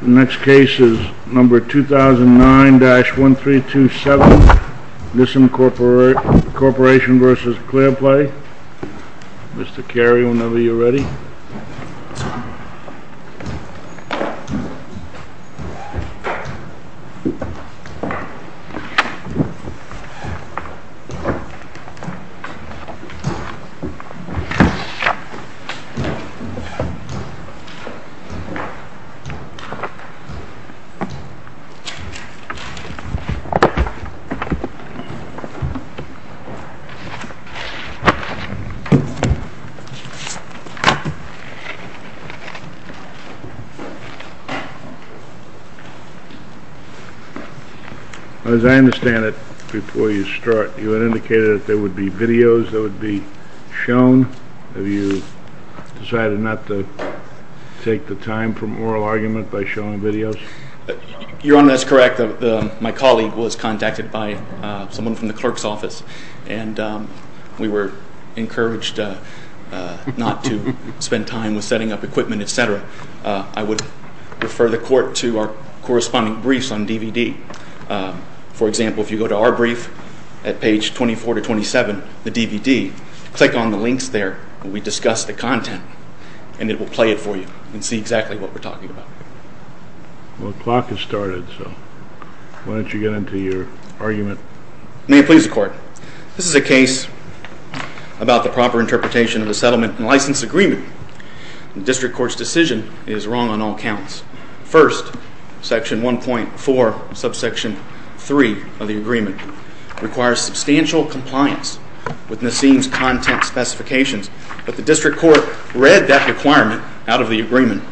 The next case is number 2009-1327 Misincorporation v. Clearplay Mr. Carey whenever you're ready As I understand it, before you start you had indicated that there would be videos that would be shown Have you decided not to take the time from oral argument by showing videos? Your Honor, that's correct. My colleague was contacted by someone from the clerk's office and we were encouraged not to spend time with setting up equipment, etc. I would refer the court to our corresponding briefs on DVD For example, if you go to our brief at page 24-27, the DVD, click on the links there and we discuss the content and it will play it for you and see exactly what we're talking about Well, the clock has started, so why don't you get into your argument May it please the court This is a case about the proper interpretation of the settlement and license agreement The district court's decision is wrong on all counts First, section 1.4, subsection 3 of the agreement requires substantial compliance with Nassim's content specifications but the district court read that requirement out of the agreement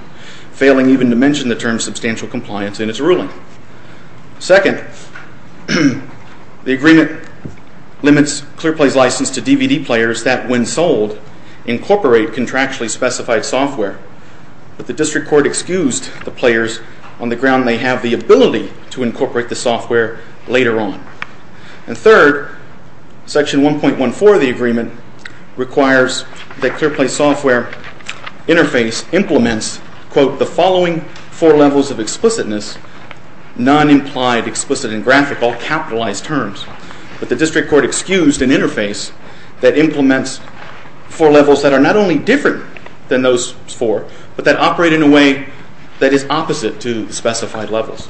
failing even to mention the term substantial compliance in its ruling Second, the agreement limits Clearplay's license to DVD players that, when sold, incorporate contractually specified software but the district court excused the players on the ground they have the ability to incorporate the software later on And third, section 1.14 of the agreement requires that Clearplay's software interface implements quote, the following four levels of explicitness, non-implied, explicit, and graphical, capitalized terms but the district court excused an interface that implements four levels that are not only different than those four but that operate in a way that is opposite to the specified levels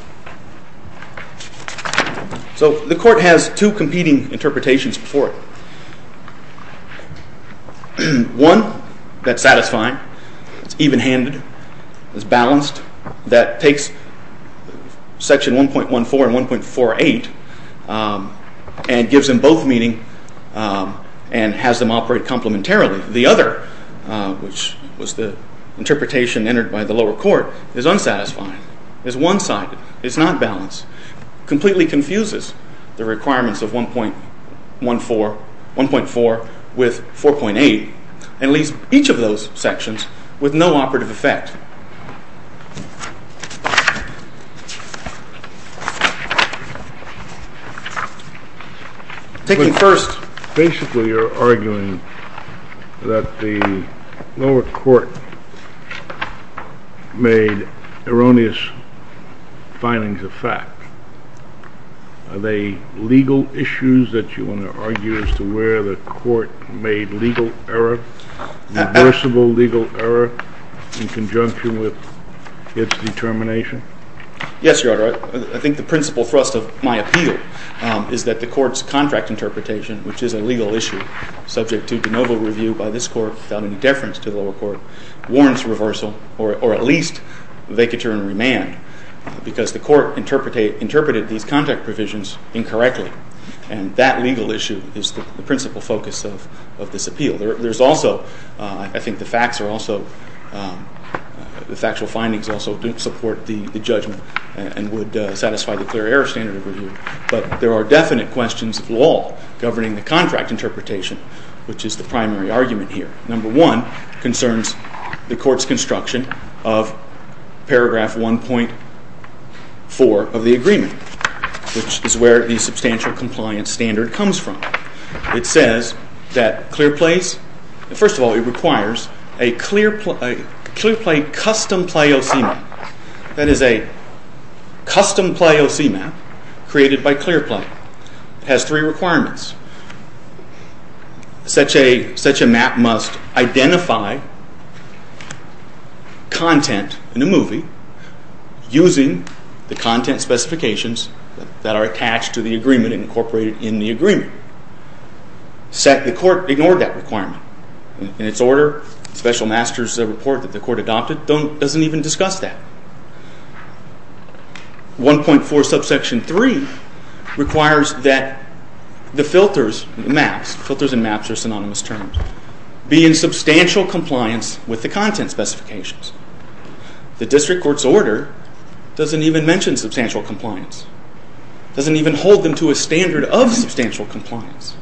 So the court has two competing interpretations for it One, that's satisfying, it's even-handed, it's balanced that takes section 1.14 and 1.48 and gives them both meaning and has them operate complementarily The other, which was the interpretation entered by the lower court, is unsatisfying, is one-sided, is not balanced completely confuses the requirements of 1.4 with 4.8 and leaves each of those sections with no operative effect Taking first Basically you're arguing that the lower court made erroneous findings of fact Are they legal issues that you want to argue as to where the court made legal error reversible legal error in conjunction with its determination? Yes, Your Honor. I think the principal thrust of my appeal is that the court's contract interpretation which is a legal issue subject to de novo review by this court without any deference to the lower court warrants reversal or at least vacature and remand because the court interpreted these contract provisions incorrectly and that legal issue is the principal focus of this appeal There's also, I think the facts are also, the factual findings also support the judgment and would satisfy the clear error standard of review but there are definite questions of law governing the contract interpretation which is the primary argument here Number one concerns the court's construction of paragraph 1.4 of the agreement which is where the substantial compliance standard comes from It says that Clearplay's, first of all it requires a Clearplay custom play OC map that is a custom play OC map created by Clearplay It has three requirements Such a map must identify content in a movie using the content specifications that are attached to the agreement incorporated in the agreement The court ignored that requirement In its order, special master's report that the court adopted doesn't even discuss that 1.4 subsection 3 requires that the filters, maps, filters and maps are synonymous terms be in substantial compliance with the content specifications The district court's order doesn't even mention substantial compliance doesn't even hold them to a standard of substantial compliance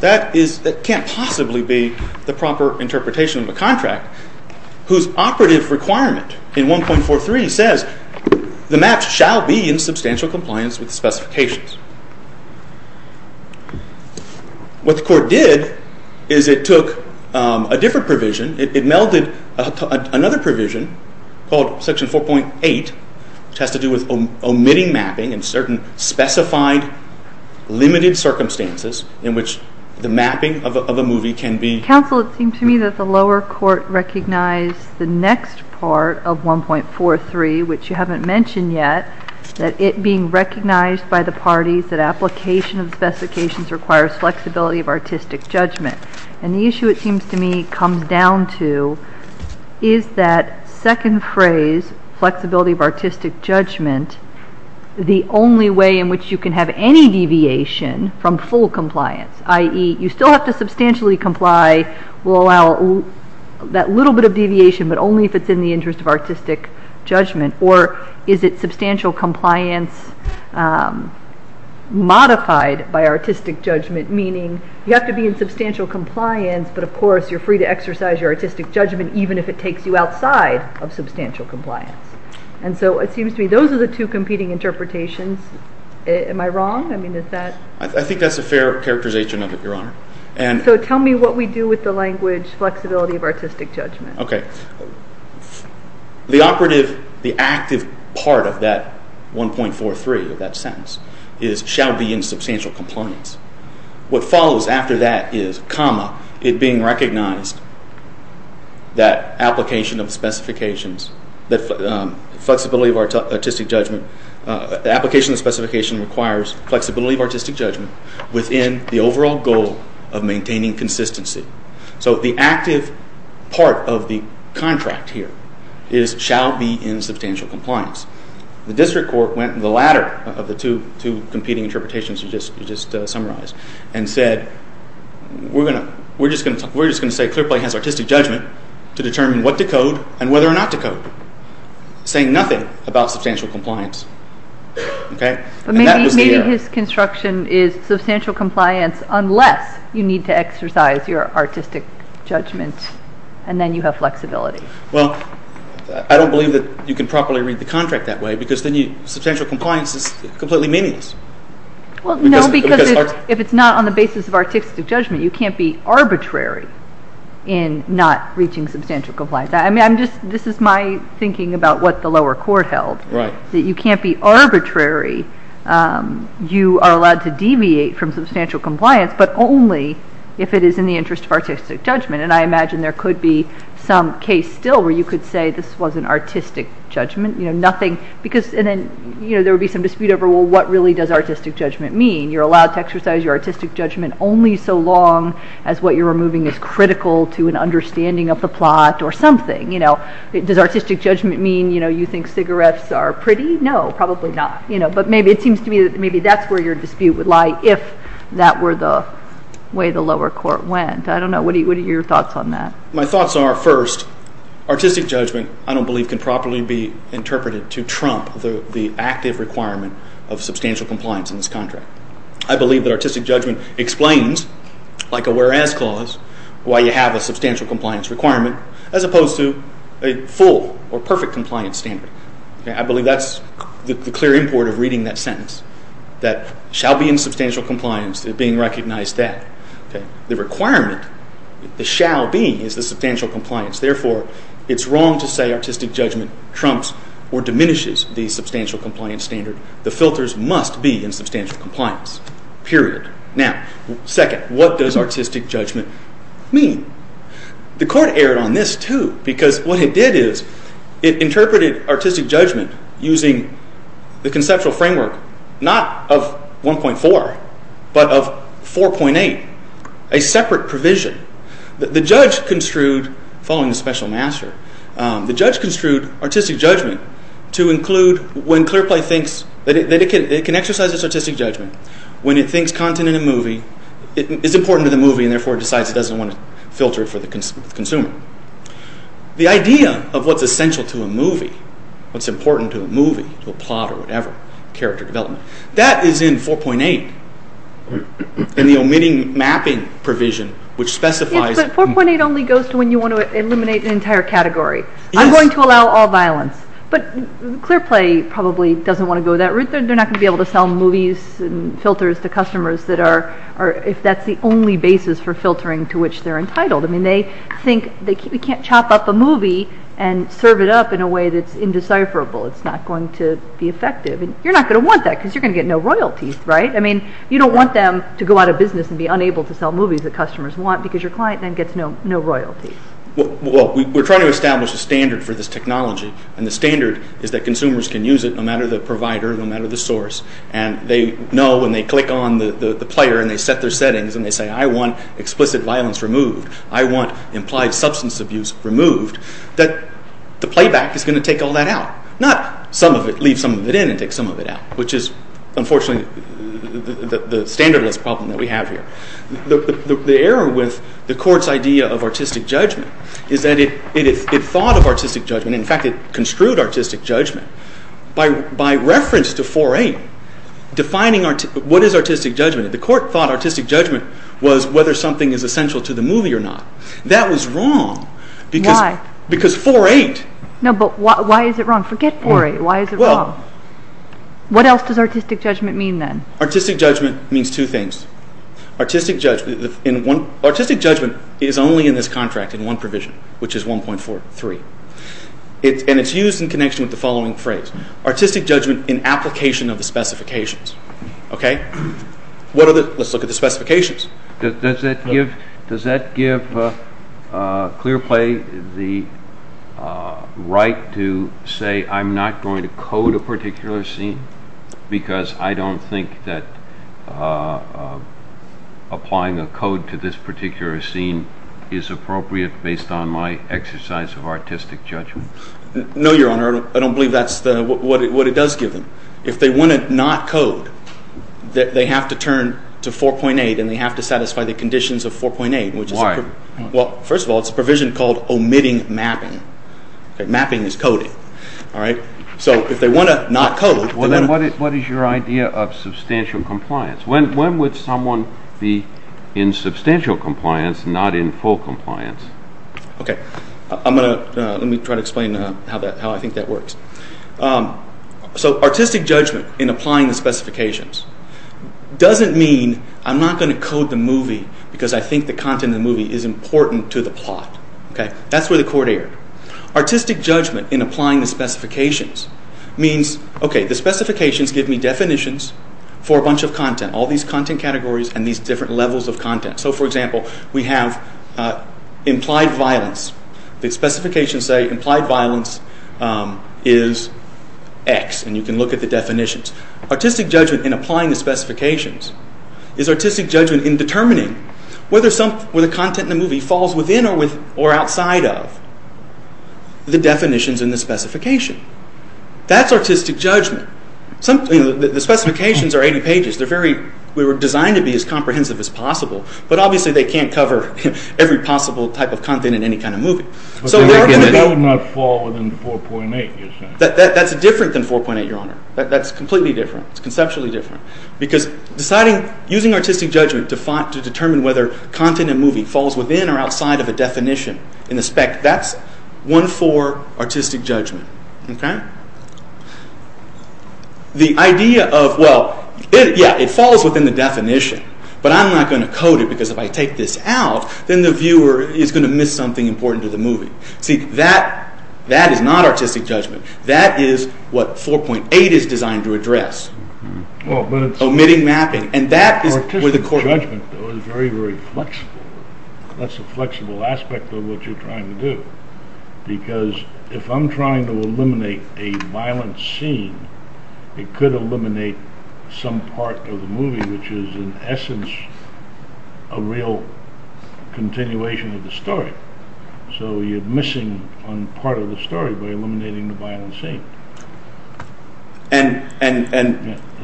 That can't possibly be the proper interpretation of a contract whose operative requirement in 1.4.3 says the maps shall be in substantial compliance with the specifications What the court did is it took a different provision it melded another provision called section 4.8 which has to do with omitting mapping in certain specified limited circumstances in which the mapping of a movie can be Counsel, it seems to me that the lower court recognized the next part of 1.4.3 which you haven't mentioned yet that it being recognized by the parties that application of specifications requires flexibility of artistic judgment and the issue it seems to me comes down to is that second phrase, flexibility of artistic judgment the only way in which you can have any deviation from full compliance i.e. you still have to substantially comply will allow that little bit of deviation but only if it's in the interest of artistic judgment or is it substantial compliance modified by artistic judgment meaning you have to be in substantial compliance but of course you're free to exercise your artistic judgment even if it takes you outside of substantial compliance and so it seems to me those are the two competing interpretations Am I wrong? I think that's a fair characterization Your Honor So tell me what we do with the language flexibility of artistic judgment The operative, the active part of that 1.4.3 of that sentence is shall be in substantial compliance what follows after that is comma it being recognized that application of specifications flexibility of artistic judgment application of specifications requires flexibility of artistic judgment within the overall goal of maintaining consistency so the active part of the contract here is shall be in substantial compliance the district court went the latter of the two competing interpretations you just summarized and said we're just going to say Clearplay has artistic judgment to determine what to code and whether or not to code saying nothing about substantial compliance Maybe his construction is substantial compliance unless you need to exercise your artistic judgment and then you have flexibility Well, I don't believe that you can properly read the contract that way because then substantial compliance is completely meaningless Well, no, because if it's not on the basis of artistic judgment you can't be arbitrary in not reaching substantial compliance This is my thinking about what the lower court held that you can't be arbitrary you are allowed to deviate from substantial compliance but only if it is in the interest of artistic judgment and I imagine there could be some case still where you could say this wasn't artistic judgment because then there would be some dispute over what really does artistic judgment mean you're allowed to exercise your artistic judgment only so long as what you're removing is critical to an understanding of the plot or something, you know Does artistic judgment mean you think cigarettes are pretty? No, probably not But maybe it seems to me that's where your dispute would lie if that were the way the lower court went I don't know, what are your thoughts on that? My thoughts are, first, artistic judgment, I don't believe can properly be interpreted to trump the active requirement of substantial compliance in this contract I believe that artistic judgment explains, like a whereas clause why you have a substantial compliance requirement as opposed to a full or perfect compliance standard I believe that's the clear import of reading that sentence that shall be in substantial compliance, being recognized that The requirement, the shall be, is the substantial compliance Therefore, it's wrong to say artistic judgment trumps or diminishes the substantial compliance standard The filters must be in substantial compliance, period Now, second, what does artistic judgment mean? The court erred on this, too because what it did is, it interpreted artistic judgment using the conceptual framework not of 1.4, but of 4.8 a separate provision The judge construed, following the special master The judge construed artistic judgment to include when Clearplay thinks that it can exercise its artistic judgment when it thinks content in a movie is important to the movie, and therefore decides it doesn't want to filter it for the consumer The idea of what's essential to a movie what's important to a movie, to a plot or whatever character development that is in 4.8 in the omitting mapping provision which specifies Yes, but 4.8 only goes to when you want to eliminate an entire category I'm going to allow all violence but Clearplay probably doesn't want to go that route They're not going to be able to sell movies and filters to customers if that's the only basis for filtering to which they're entitled They think, we can't chop up a movie and serve it up in a way that's indecipherable It's not going to be effective You're not going to want that because you're going to get no royalties You don't want them to go out of business and be unable to sell movies that customers want because your client then gets no royalties We're trying to establish a standard for this technology and the standard is that consumers can use it no matter the provider, no matter the source and they know when they click on the player and they set their settings and they say, I want explicit violence removed I want implied substance abuse removed that the playback is going to take all that out not leave some of it in and take some of it out which is unfortunately the standardless problem that we have here The error with the court's idea of artistic judgment is that it thought of artistic judgment in fact, it construed artistic judgment by reference to 4.8 defining what is artistic judgment The court thought artistic judgment was whether something is essential to the movie or not That was wrong Why? Because 4.8 No, but why is it wrong? Forget 4.8, why is it wrong? What else does artistic judgment mean then? Artistic judgment means two things Artistic judgment is only in this contract in one provision which is 1.43 and it's used in connection with the following phrase Artistic judgment in application of the specifications Okay? Let's look at the specifications Does that give Clearplay the right to say I'm not going to code a particular scene because I don't think that applying a code to this particular scene is appropriate based on my exercise of artistic judgment? No, your honor I don't believe that's what it does give them If they want to not code they have to turn to 4.8 and they have to satisfy the conditions of 4.8 Why? Well, first of all it's a provision called omitting mapping Mapping is coding Alright? So, if they want to not code What is your idea of substantial compliance? When would someone be in substantial compliance not in full compliance? Okay I'm going to Let me try to explain how I think that works So, artistic judgment in applying the specifications doesn't mean I'm not going to code the movie because I think the content of the movie is important to the plot Okay? That's where the court erred Artistic judgment in applying the specifications means Okay, the specifications give me definitions for a bunch of content all these content categories and these different levels of content So, for example we have implied violence The specifications say implied violence is X and you can look at the definitions Artistic judgment in applying the specifications is artistic judgment in determining whether the content in the movie falls within or outside of the definitions in the specification That's artistic judgment The specifications are 80 pages They were designed to be as comprehensive as possible but obviously they can't cover every possible type of content in any kind of movie That would not fall within 4.8, you're saying? That's different than 4.8, your honor That's completely different It's conceptually different Because using artistic judgment to determine whether content in a movie falls within or outside of a definition in the spec that's 1-4 artistic judgment Okay? The idea of well yeah, it falls within the definition but I'm not going to code it because if I take this out then the viewer is going to miss something important to the movie See, that that is not artistic judgment That is what 4.8 is designed to address omitting mapping and that is Artistic judgment is very, very flexible That's a flexible aspect of what you're trying to do because if I'm trying to eliminate a violent scene it could eliminate some part of the movie which is in essence a real continuation of the story so you're missing on part of the story by eliminating the violent scene And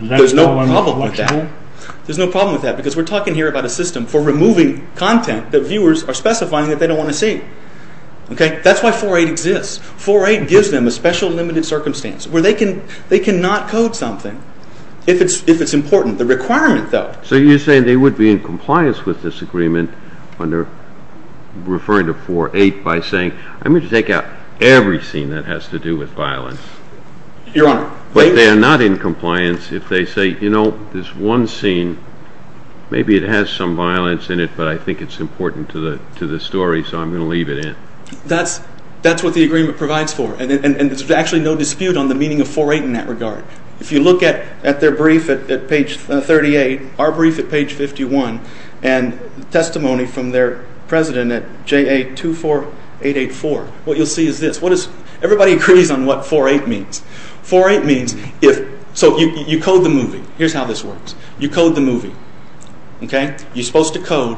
there's no problem with that There's no problem with that because we're talking here about a system for removing content that viewers are specifying that they don't want to see Okay? That's why 4.8 exists 4.8 gives them a special limited circumstance where they can they cannot code something if it's important The requirement though So you're saying they would be in compliance with this agreement under referring to 4.8 by saying I'm going to take out every scene that has to do with violence Your Honor But they are not in compliance if they say you know this one scene maybe it has some violence in it but I think it's important to the story so I'm going to leave it in That's that's what the agreement provides for and there's actually no dispute on the meaning of 4.8 in that regard If you look at at their brief at page 38 our brief at page 51 and testimony from their president at JA24884 what you'll see is this what is everybody agrees on what 4.8 means 4.8 means if so you code the movie here's how this works you code the movie Okay? You're supposed to code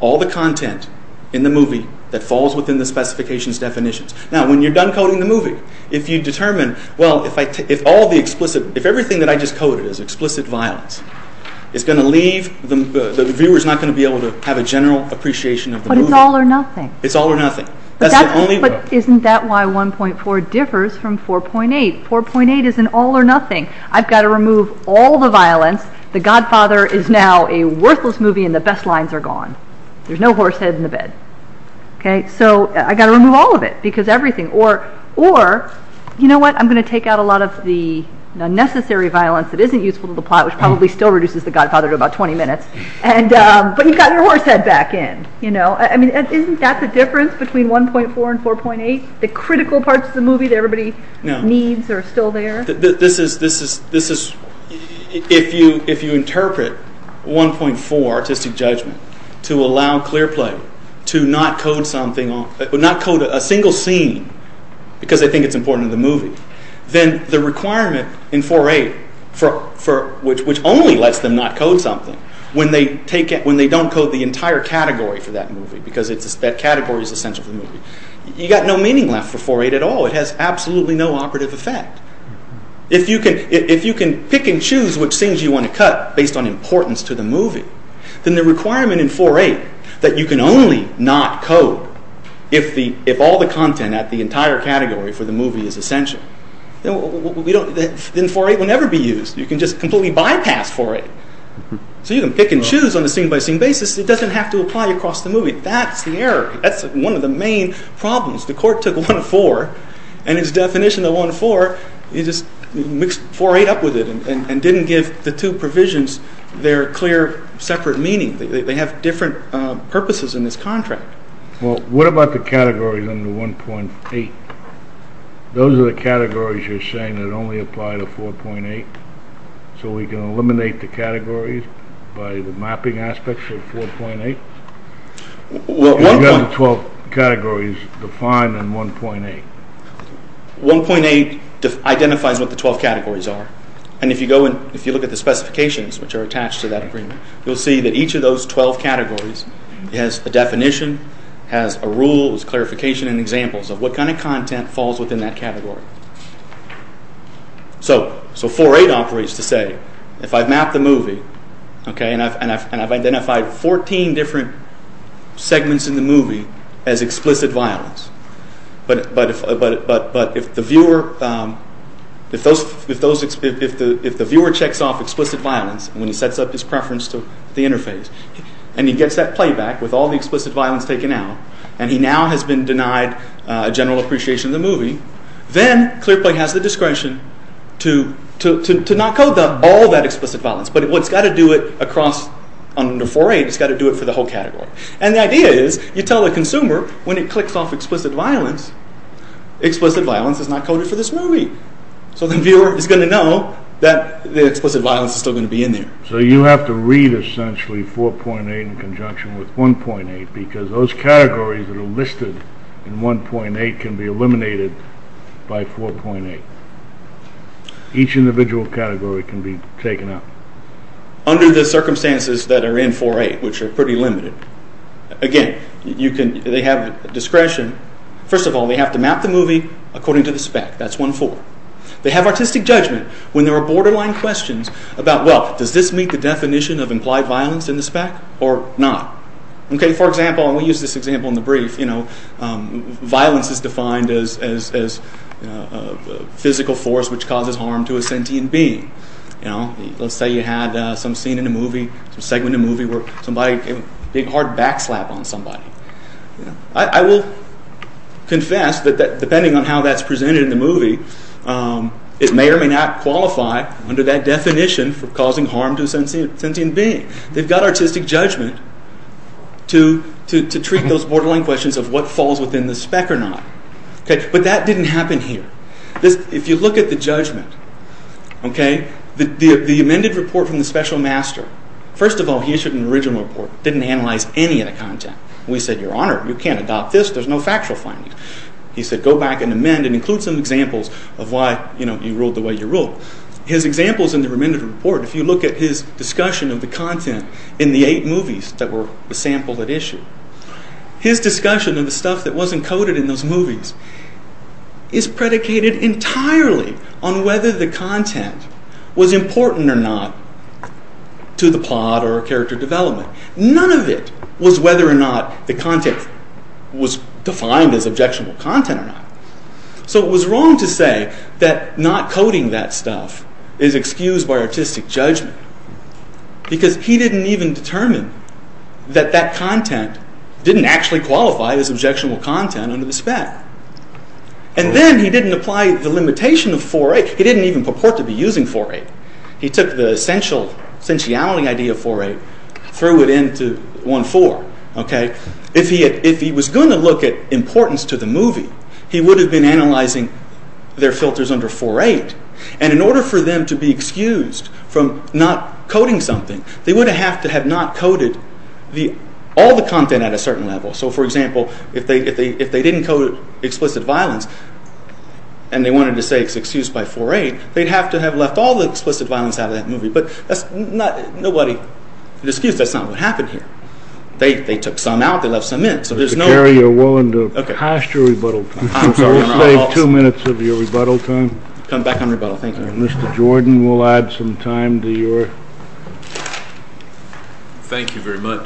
all the content in the movie that falls within the specifications definitions Now when you're done coding the movie if you determine well if I if all the explicit if everything that I just coded is explicit violence it's going to leave the viewer's not going to be able to have a general appreciation of the movie But it's all or nothing It's all or nothing That's the only But isn't that why 1.4 differs from 4.8 4.8 is an all or nothing I've got to remove all the violence The Godfather is now a worthless movie and the best lines are gone There's no horse head in the bed Okay? So I've got to remove all of it because everything Or Or You know what? I'm going to take out a lot of the unnecessary violence that isn't useful to the plot which probably still reduces the Godfather to about 20 minutes But you've got your horse head back in You know? Isn't that the difference between 1.4 and 4.8? The critical parts of the movie that everybody needs are still there? No This is This is If you If you interpret 1.4 Artistic Judgment to allow clear play to not code something not code a single scene because they think it's important to the movie then the requirement in 4.8 for for which only lets them not code something when they take when they don't code the entire category for that movie because that category is essential for the movie You've got no meaning left for 4.8 at all It has absolutely no operative effect If you can If you can pick and choose which scenes you want to cut based on importance to the movie then the requirement in 4.8 that you can only not code if the if all the content at the entire category for the movie is essential Then 4.8 will never be used You can just completely bypass 4.8 So you can pick and choose on a scene-by-scene basis It doesn't have to apply across the movie That's the error That's one of the main problems The court took 1.4 and its definition of 1.4 it just mixed 4.8 up with it and didn't give the two provisions their clear separate meaning They have different purposes in this contract Well What about the categories in the 1.8 Those are the categories you're saying that only apply to 4.8 So we can eliminate the categories by the mapping aspects of 4.8 Well You've got the 12 categories defined in 1.8 1.8 identifies what the 12 categories are and if you look at the specifications which are attached to that agreement you'll see that each of those 12 categories has a definition has a requirement has a requirement has a definition has rules clarification and examples of what kind of content falls within that category So 4.8 operates to say if I've mapped the movie and I've identified 14 different segments in the movie as explicit violence but if the viewer if those if the viewer checks off explicit violence when he sets up his preference to the interface and he gets that playback with all the explicit violence taken out and he now has been denied a general appreciation of the movie then ClearPlay has the discretion to not code all that explicit violence but it's got to do it across under 4.8 it's got to do it for the whole category and the idea is you tell the consumer when it clicks off explicit violence explicit violence is not coded for this movie so the viewer is going to know that the explicit violence is still going to be in there so you have to read essentially 4.8 in conjunction with 1.8 because those categories that are listed in 1.8 can be eliminated by 4.8 each individual category can be taken out under the circumstances that are in 4.8 which are pretty limited again you can they have discretion first of all they have to map the movie according to the circumstances does this meet the definition of implied violence in the spec or not for example we use this example in the brief violence is defined as physical force which causes harm to a sentient being let's say you had some scene in a movie segment of a movie where somebody gave a big hard back slap on somebody I will confess that depending on how that's presented in the movie it may or may not qualify under that definition for causing harm to a sentient being they've got artistic judgment to treat those borderline questions of what falls within the spec or not but that didn't happen here if you look at the judgment okay the amended report from the special master first of all he issued an original report didn't analyze any of the content we said your honor you can't adopt this there's no factual findings he said go back and amend and include some examples of why you know you ruled the way you ruled his examples in the amended report if you look at his discussion of the content in the eight movies that were sampled and issued his discussion of the stuff that wasn't coded in those movies is predicated entirely on whether the content was important or not to the plot or character whether it was objectionable content or not so it was wrong to say that not coding that stuff is excused by artistic judgment because he didn't even determine that that content didn't actually qualify as objectionable content under the spec and then he didn't apply the limitation of 4.8 he didn't even purport to be using 4.8 he took the essential sensuality idea of 4.8 threw it into 1.4 okay if he was going to look at importance to the movie he would have been analyzing their filters under 4.8 and in order for them to be excused from not coding something they would have to have not coded all the content at a certain level so for example if they didn't code explicit violence and they wanted to say it's excused by 4.8 they'd have to have left all the explicit violence out of that movie but that's not nobody excused that's not what happened here they took some out they left some in so there's no excuse for into 4.8 so that's not what happened here so that's not what happened here so that's not what happened here so that's not what happened here so here so that's not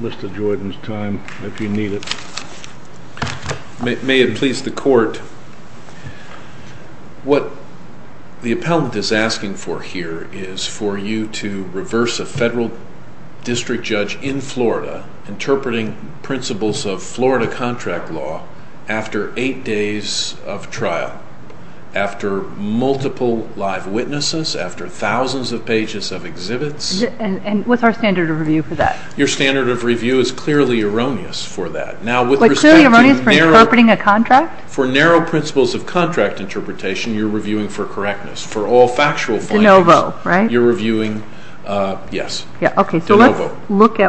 what happened here so let's look at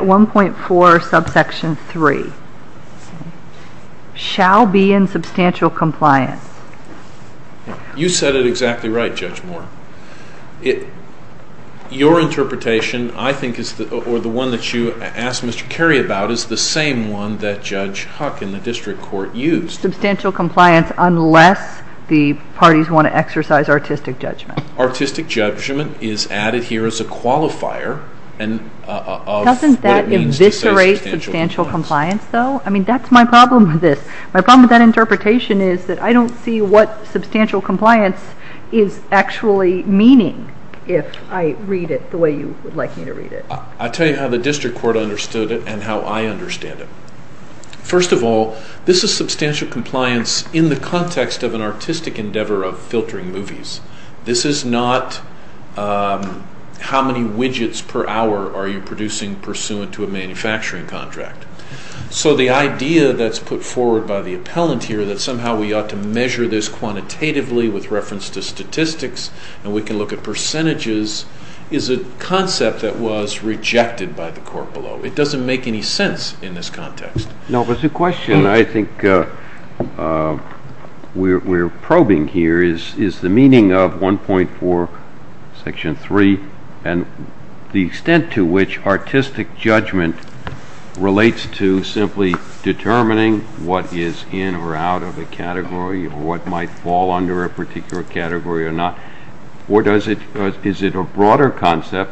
1.4 subsection 3 shall be in substantial compliance you said it exactly right judge moore your interpretation I think is the one that you asked Mr. Kerry about is the same one that Judge Huck in the district court used substantial compliance unless the parties want to exercise artistic judgment artistic judgment is added here as a qualifier and of what it means to say I don't see what substantial compliance is actually meaning if I read it the way you would like me to read it I tell you how the district court understood it and how I understand it first of all this is substantial judgment to a manufacturing contract so the idea that's put forward by the appellant here that somehow we ought to measure this quantitatively with reference to statistics and we can look at percentages is a concept that was rejected by the court below it doesn't make any sense in this context no but the question I think we're probing here is the meaning of 1.4 section 3 and the extent to which artistic judgment relates to simply determining what is in or out of a category or what might fall under a particular category or not or is it a broader concept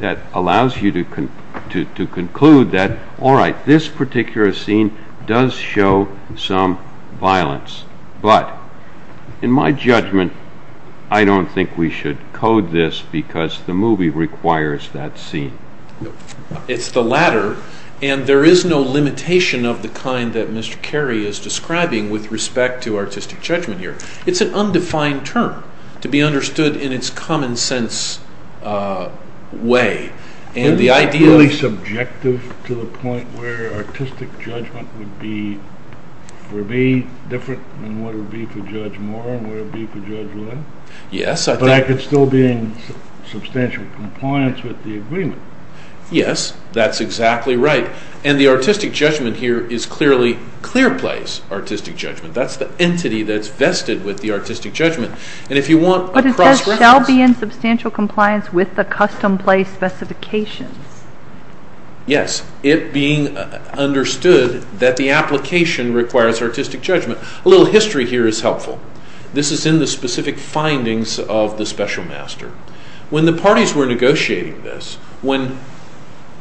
that allows you to conclude that alright this particular scene does show some violence but in my judgment I don't think we should code this because the movie requires that scene. It's the latter and there is no limitation of the kind that Mr. Carey is describing with respect to artistic judgment here. It's an undefined term to be understood in its common sense way and the idea... Is that really subjective to the point where artistic judgment would be for me different than what it would be for Judge Moore and what it would be for Judge Lin? Yes. But I could still be in substantial compliance with the agreement. Yes that's exactly right and the artistic judgment here is clearly clear place artistic judgment. That's the entity that's vested with the artistic judgment and if you want... But it says shall be in substantial compliance with the custom place specifications. Yes. It being understood that the application requires artistic judgment. A little history here is helpful. This is in the specific findings of the special master. When the parties were negotiating this when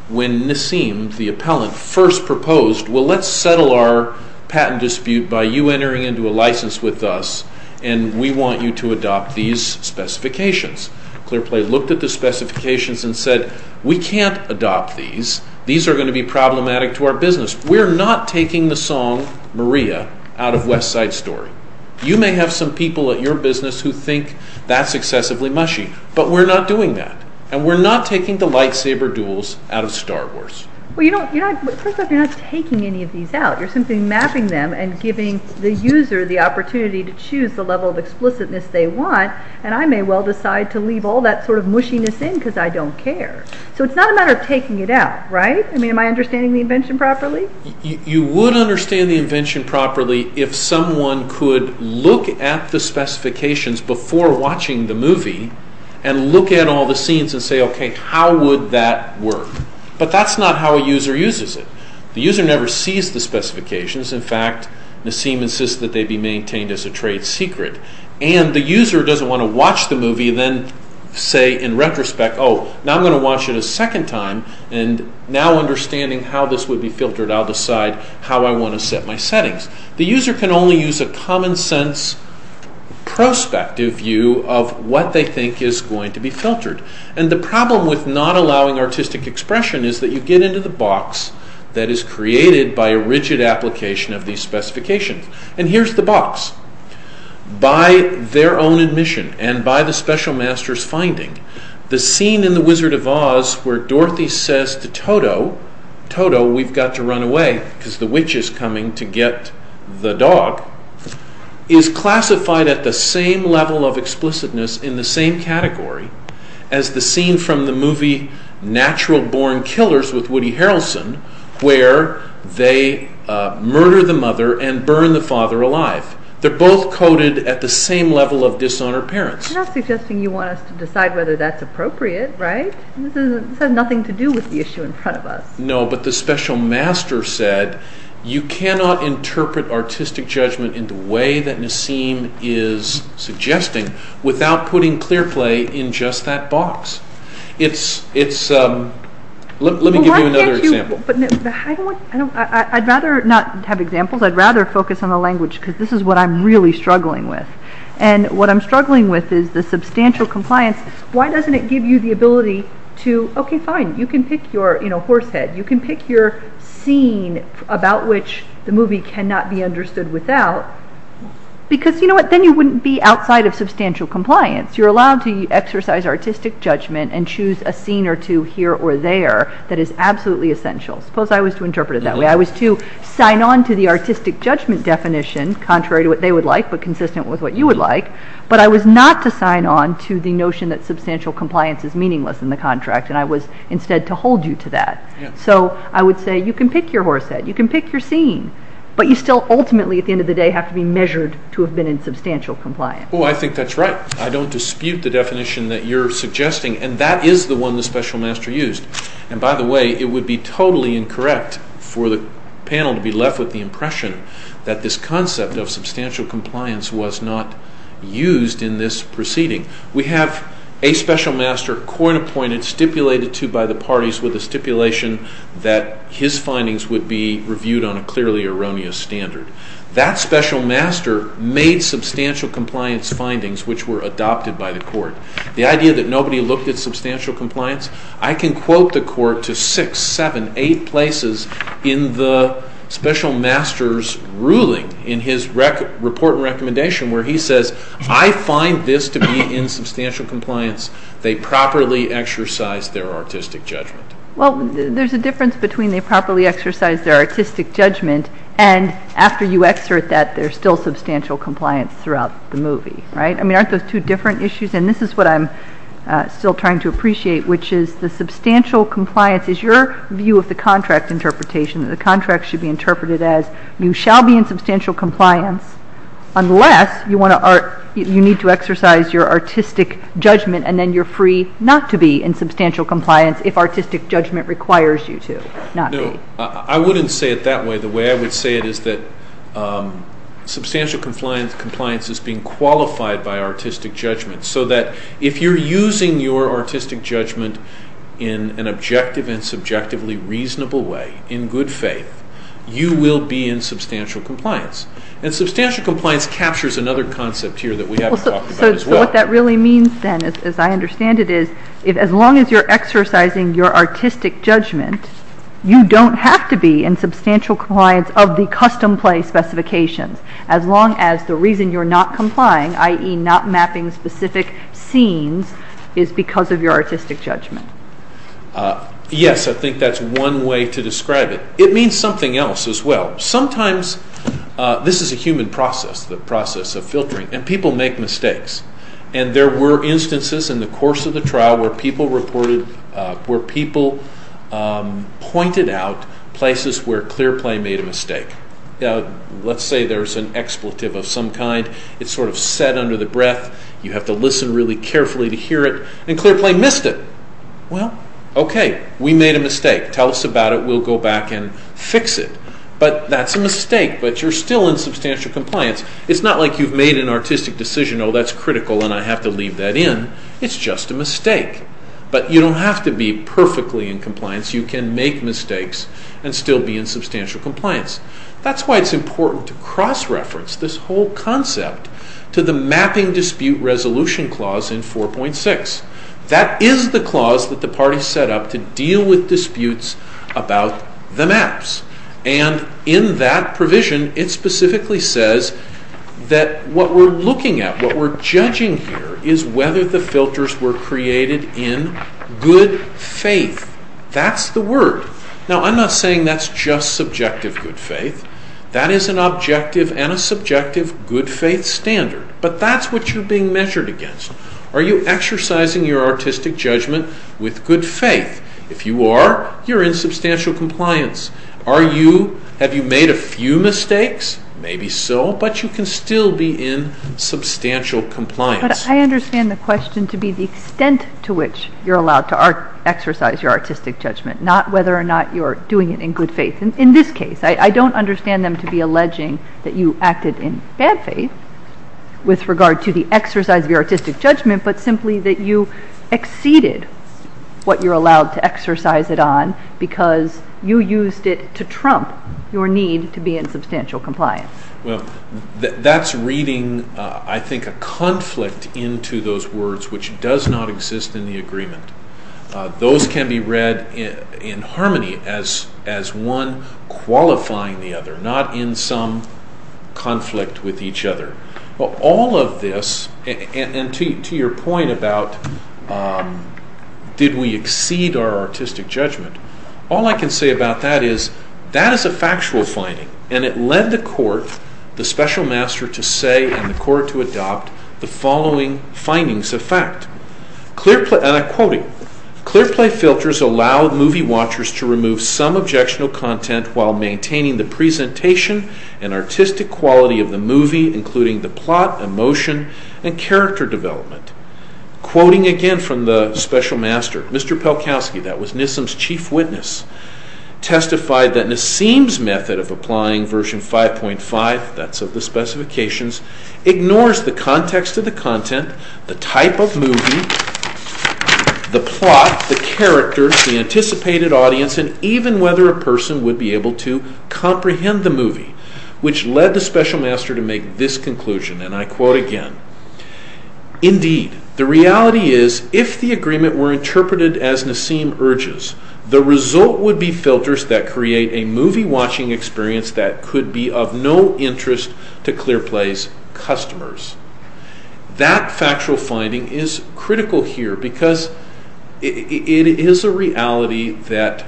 Nassim the appellant first proposed well let's settle our patent dispute by you entering into a license with us and we want you to adopt these specifications. Clearplay looked at the specifications and said we can't adopt these. These are going to be problematic to our business. We're not taking the song Maria out of West Side Story. You may have some people at your business who think that's excessively mushy but we're not doing that. We're not taking the lightsaber duels out of Star Wars. You're not taking any of these out. You're simply mapping them and giving the user the opportunity to choose the level of explicitness they want and I may well decide to leave all that mushiness in because I don't care. It's not a matter of taking it out. Am I understanding the invention properly? You would understand the invention properly if someone could look at the specifications before watching the movie and look at all the scenes and say, how would that work? But that's not how a user uses it. The user never sees the specifications. In fact, Nassim insists that they be maintained as a trade secret and the user doesn't want to watch the movie and then say, in retrospect, oh, now I'm going to watch it a second time. The problem with not allowing artistic expression is that you get into the box that is created by a rigid application of these specifications. And here's the box. By their own admission and by the special master's finding, the scene in The Wizard of Oz where Dorothy says to Toto, Toto, we've got to run away because the witch is coming to get the dog, is classified at the same level of explicitness in the same category as the scene from the movie Natural Born Killers with Woody Harrelson where they murder the mother and burn the father alive. They're both coded at the same level of dishonored parents. You're not suggesting you want us to decide whether that's true or not. You cannot interpret artistic judgment in the way that Nassim is suggesting without putting clear play in just that box. Let me give you another example. I'd rather not have examples. I'd rather focus on the language because this is what I'm really struggling with. And what I'm struggling with is the substantial compliance. Why doesn't it give you the ability to, okay, fine, you can pick your horse head, you can pick your scene about which the movie cannot be understood without because you know what, then you wouldn't be outside of substantial compliance. You're allowed to exercise and choose a scene or two here or there that is absolutely essential. Suppose I was to interpret it that way. I was to sign on to the artistic editor I have the ability to do that. So I would say you can pick your horse head, you can pick your scene, but you still ultimately have to be measured to have been in substantial compliance. I don't dispute the definition that you're suggesting. And that is the stipulation that his findings would be reviewed on a clearly erroneous standard. That special master made substantial compliance findings which were adopted by the court. The idea that nobody looked at substantial compliance, I can quote the court to six, seven, eight places in the special master's ruling in his report and recommendation where he says, I find this to be in substantial compliance, they properly exercise their artistic judgment. Well, there's a difference between they properly exercise their artistic judgment and after you exert that, there's still substantial compliance throughout the movie. Aren't those two different issues? This is what I'm still trying to appreciate which is the substantial compliance is your view of the contract interpretation that the contract should be interpreted as you shall be in substantial compliance. Substantial compliance is being qualified by artistic judgment so that if you're using your artistic judgment in an objective and subjectively reasonable way, in good faith, you will be in substantial compliance. Substantial compliance captures another concept here that we haven't talked about as much. As long as you're exercising your artistic judgment, you don't have to be in substantial compliance of the custom play specifications as long as the reason you're not complying, i.e., not mapping specific scenes, is because of your artistic judgment. Yes, I think that's one way to describe it. It means something else as well. Sometimes, this is a human process, the process of filtering, and people make mistakes. And there were instances in the course of the trial where people reported, where people pointed out places where clear play made a mistake. Let's say there's an artistic decision, oh, that's critical, and I have to leave that in. It's just a mistake. But you don't have to be perfectly in compliance. You can make mistakes and still be in substantial compliance. That's why it's important to cross-reference this whole concept to the mapping dispute resolution clause in 4.6. That is the clause that the party set up to deal with disputes about the maps. And in that provision, it specifically says that what we're looking at, what we're judging here, is whether the filters were created in good faith. That's the word. Now, I'm not saying that's just subjective good faith. That is an objective and a subjective good faith standard. But that's what you're being measured against. Are you exercising your artistic judgment with good faith? If you are, you're in substantial compliance. Are you, have you made a few mistakes? Maybe so, but you can still be in good faith. In this case, I don't understand them to be alleging that you acted in bad faith with regard to the exercise of your artistic judgment, but simply that you exceeded what you're allowed to exercise it on because you used it to trump your need to be in substantial compliance. Well, that's reading, I think, a conflict into those words which does not exist in the agreement. Those can be read in harmony as one qualifying the other, not in some conflict with each other. All of this, and to your point about did we exceed our artistic judgment, all I can say about that is that is a factual finding, and it led the Court, the Special Master, to say and the Court to adopt the following findings of fact. And I'm quoting. Clearplay filters allow movie watchers to remove some objectionable content while maintaining the presentation and artistic quality of the movie, including the plot, emotion, and character development. Quoting again from the Special Master, Mr. Pelkowski, that was NISM's chief witness, testified that NISM's method of applying version 5.5, that's of the specifications, ignores the context of the content, the type of movie, the plot, the characters, the anticipated audience, and even whether a person would be able to comprehend the movie, which led the Special Master to say, the reality is if the agreement were interpreted as NISM urges, the result would be filters that create a movie watching experience that could be of no interest to Clearplay's customers. That factual finding is critical here because it is a reality that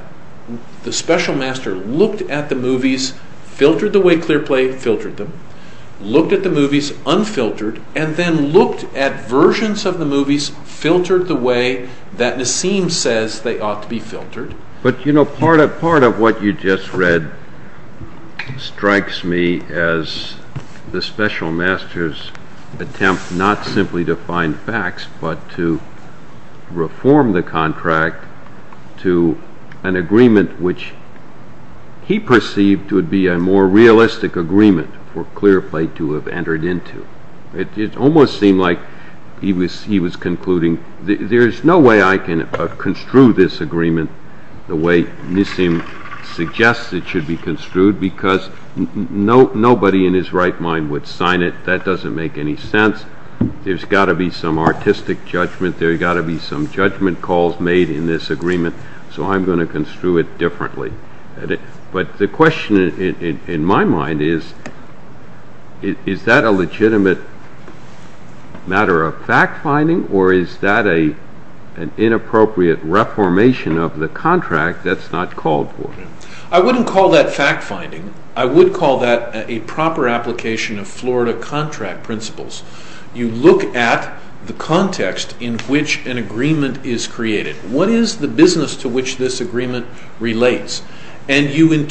the Special Master looked at the movies, filtered the way Clearplay filtered them, looked at the movies unfiltered, and then looked at versions of the movies, filtered the way that NISM says they ought to be filtered. But you know, part of what you just read strikes me as the Special Master's attempt not simply to find facts, but to reform the contract to an agreement which he perceived would be a more realistic agreement for Clearplay to have entered into. It almost seemed like he was concluding, there is no way I can construe this agreement the way NISM suggests it should be construed because nobody in his right mind would sign it. That doesn't make any sense. There's got to be some artistic judgment, there's got to be some judgment calls made in this agreement, so I'm going to construe it differently. But the question is, is that a legitimate matter of fact-finding or is that an inappropriate reformation of the contract that's not called for? I wouldn't call that fact-finding. I would call that a proper application of Florida contract principles. You look at the context in which an agreement is created. What is the business to which this agreement relates? And you say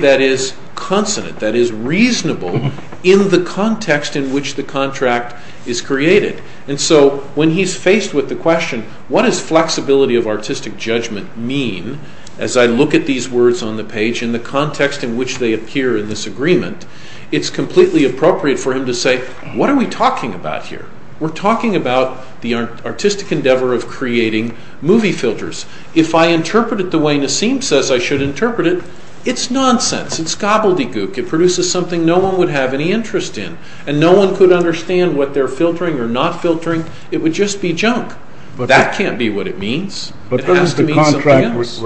that is consonant, that is reasonable in the context in which the contract is created. And so when he's faced with the question, what does flexibility of artistic judgment mean, as I look at these words on the page in the context in which they appear in this agreement, it's completely appropriate for him to say, what are we talking about here? We're talking about the artistic endeavor of creating movie filters. If I interpret it the way Nassim says I should interpret it, it's nonsense. It's gobbledygook. It produces something no one would have any interest in, and no one could understand what or not filtering. It would just be junk. That can't be what it means. It has to mean something else. But doesn't the contract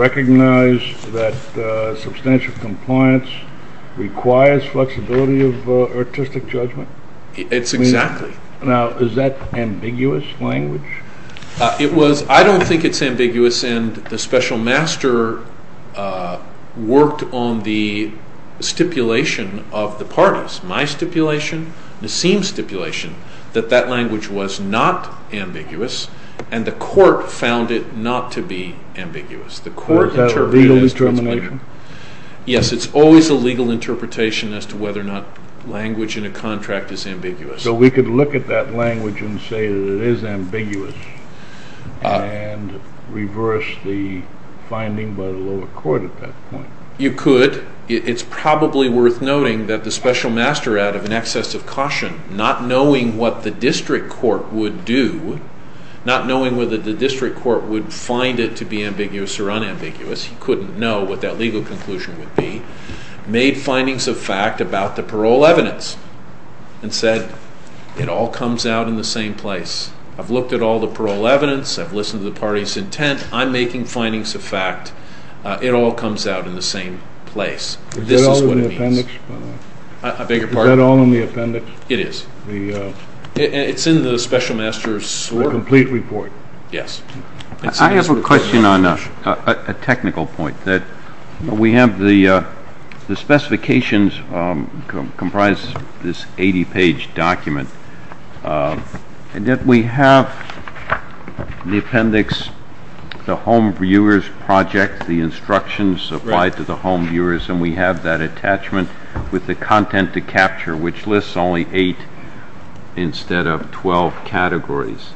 recognize that substantial compliance requires flexibility of language? I think it's ambiguous, and the special master worked on the stipulation of the parties, my stipulation, Nassim's stipulation, that that language was not ambiguous, and the not to be ambiguous. Is that a legal interpretation? Yes, it's always a legal interpretation as to whether or not language in a contract is ambiguous. So we could look at that language and say that it is ambiguous and reverse the finding by the lower court at that point? You could. It's probably worth noting that the special master, out of an excess of caution, not knowing what the district court would do, not knowing whether the district court would find it to be ambiguous or unambiguous, he couldn't know what that legal conclusion would be, made findings of fact about the parole evidence and said, it all comes out in the same place. I've looked at all the parole evidence, I've listened to the parties' intent, I'm making findings of fact, it all comes out in the same place. Is that all in the appendix? It is. It's in the special master's report. A complete report. Yes. I have a question on a technical point. We have the specifications comprise this 80-page document, and that we have the appendix, the home viewers project, the instructions applied to the home viewers, and we have that attachment with the content to capture, which lists only eight instead of twelve categories.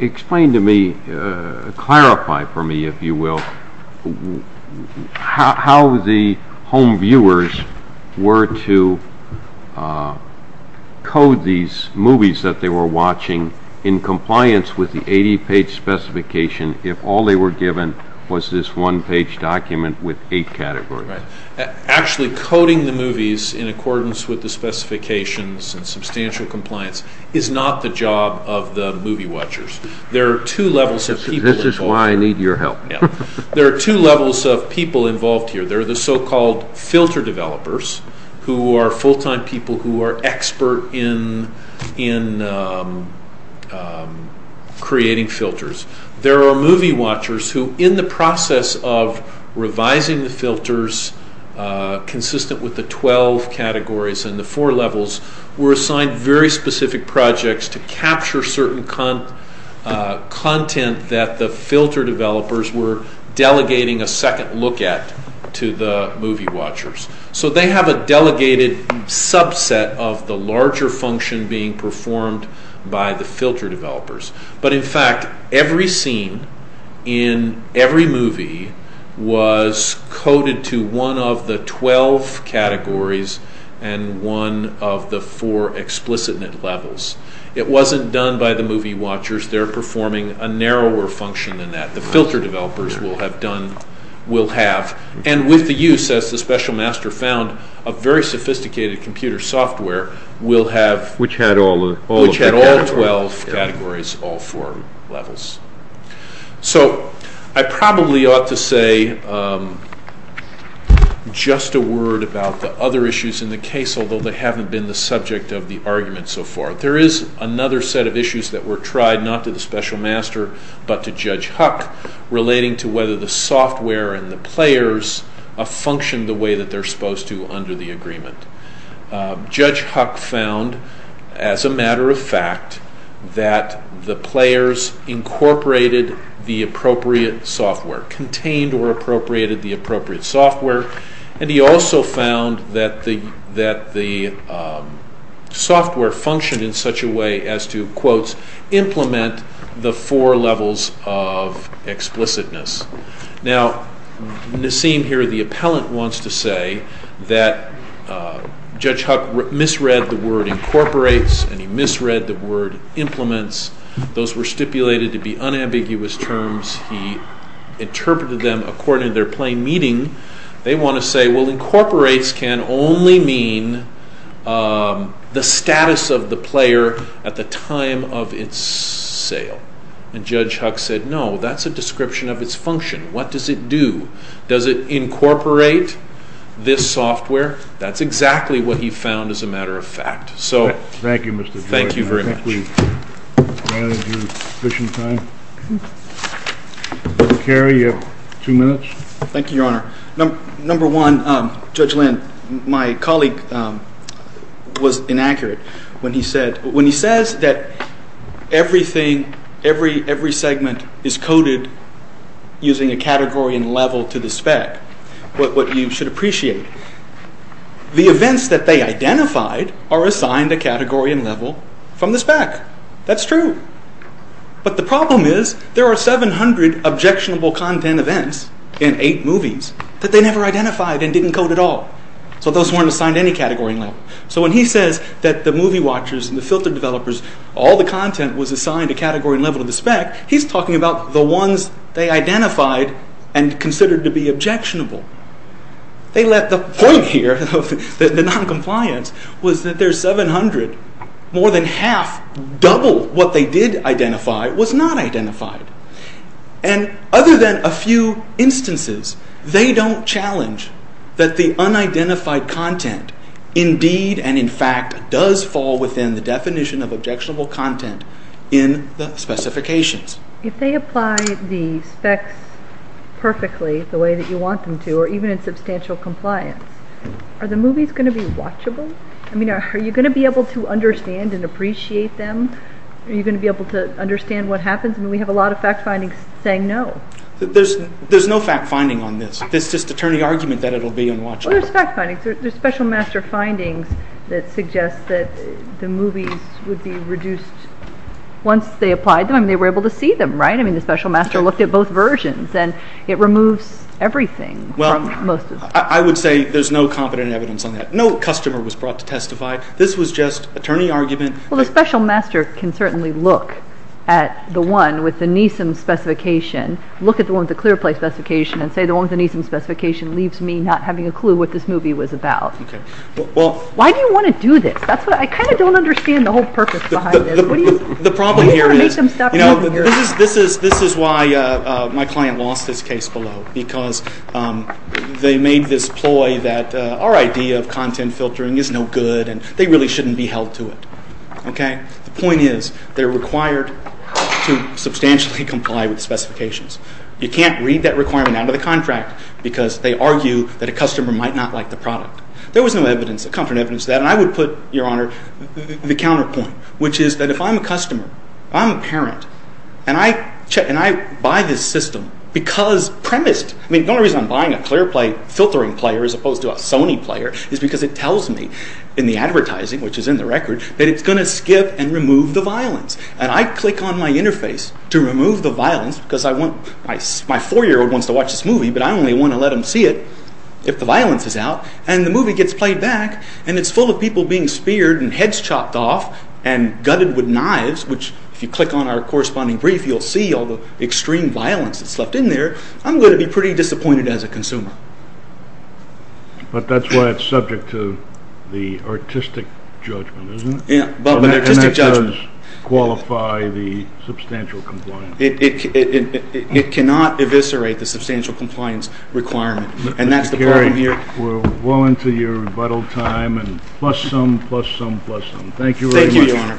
Explain to me, clarify for me, if you will, how the home viewers were to code these movies that they were watching in compliance with the 80-page specification if all they were given was this one-page document with eight categories? Actually, coding the movies in accordance with the specifications and substantial compliance is not the job of the movie watchers. There are two levels of people involved. This is why I need your help. There are two levels of people involved here. There are the so-called filter developers who are full-time people who are expert in creating filters. There are movie watchers who, revising the filters consistent with the 12 categories and the four levels, were assigned very specific projects to capture certain content that the filter developers were delegating a second look at to the movie watchers. They have a delegated subset of the larger function being performed by the filter developers. In fact, every scene in every movie was coded to one of the 12 categories and one of the four explicit levels. It was not done by the movie watchers. They are performing a narrower function than that. The filter developers will have done, will have, and with the use, as the special master found, of very specific content. I probably ought to say just a word about the other issues in the case, although they have not been the subject of the argument so far. There is another set of issues that were tried, not to the special master, but to Judge Huck, relating to whether the software and the players functioned the appropriate software, contained or appropriated the appropriate software, and he also found that the software functioned in such a way as to quote, implement the four levels of explicitness. Now, Nassim here, the appellant, wants to say that Judge Huck misread the word incorporates and he misread the word implements. Those were the terms he interpreted them according to their plain meaning. They want to say, well, incorporates can only mean the status of the player at the time of its sale. And Judge Huck said, no, that is a description of its function. What does it do? Does it incorporate this software? That is exactly what Judge Huck Thank you. Judge Linn, you have two minutes. Thank you, Your Honor. Number one, Judge Linn, my colleague was inaccurate when he said, when he says that everything, every segment is coded using a category and level to the spec, what you should appreciate, the events that they identified are assigned a category and level from the spec. That's true. But the problem is, there are 700 objectionable content events in eight movies that they never identified and didn't code at all. So those weren't assigned any category and level. So when he says that the movie watchers and the filter developers, all the content was assigned a category and level to the spec, he's talking about the ones they identified and considered to be objectionable. They left the point here, the non-compliance, was that there's 700, more than half, and the fact does fall within the definition of objectionable content in the specifications. If they apply the specs perfectly, the way that you want them to, or even in substantial compliance, are the movies going to be watchable? I mean, are you going to be able to understand and appreciate them? Are you going to be able to understand what happens? I mean, we have a lot of fact findings saying no. There's no fact finding on this. It's just attorney argument that it'll be unwatchable. There's fact findings. There's special master findings that suggest that the movies would be reduced once they applied them. They were able to see them, right? The special master looked at both versions and it removes everything. I would say there's no competent evidence on that. No customer was brought to testify. This was just attorney argument. Well, the special master can certainly look at the one with the NISM specification and say the one with the NISM specification leaves me not having a clue what this movie was about. Why do you want to do this? I kind of don't understand the whole purpose behind this. The problem here is this is why my client lost this case below. Because they made this ploy that our idea of content filtering is no good and they really shouldn't be held to it. The point is they're required to substantially comply with the specifications. You can't read that requirement out of the contract because they argue that a customer might not like the product. There was no evidence of that. I would put the counterpoint which is if I'm a customer, I'm a parent, and I buy this system because premised, the only reason I'm buying a clear play filtering player as opposed to a Sony player is because it tells me in the advertising which is in the record that it's going to skip and remove the violence. I click on my interface to remove the violence because my four-year-old wants to watch this movie but I only want to let him see it if the violence is out and the movie gets played back and it's full of people being speared and heads chopped off and gutted with knives which if you click on our corresponding brief you'll see all the extreme violence that's left in there. I'm going to be pretty disappointed as a consumer. But that's why it's subject to the artistic judgment isn't it? And that does qualify the substantial compliance. It cannot eviscerate the substantial compliance requirement and that's the problem here. We're well into your rebuttal time and plus some, plus some, plus some. Thank you very much. Your Honor. Thank you. Case is submitted.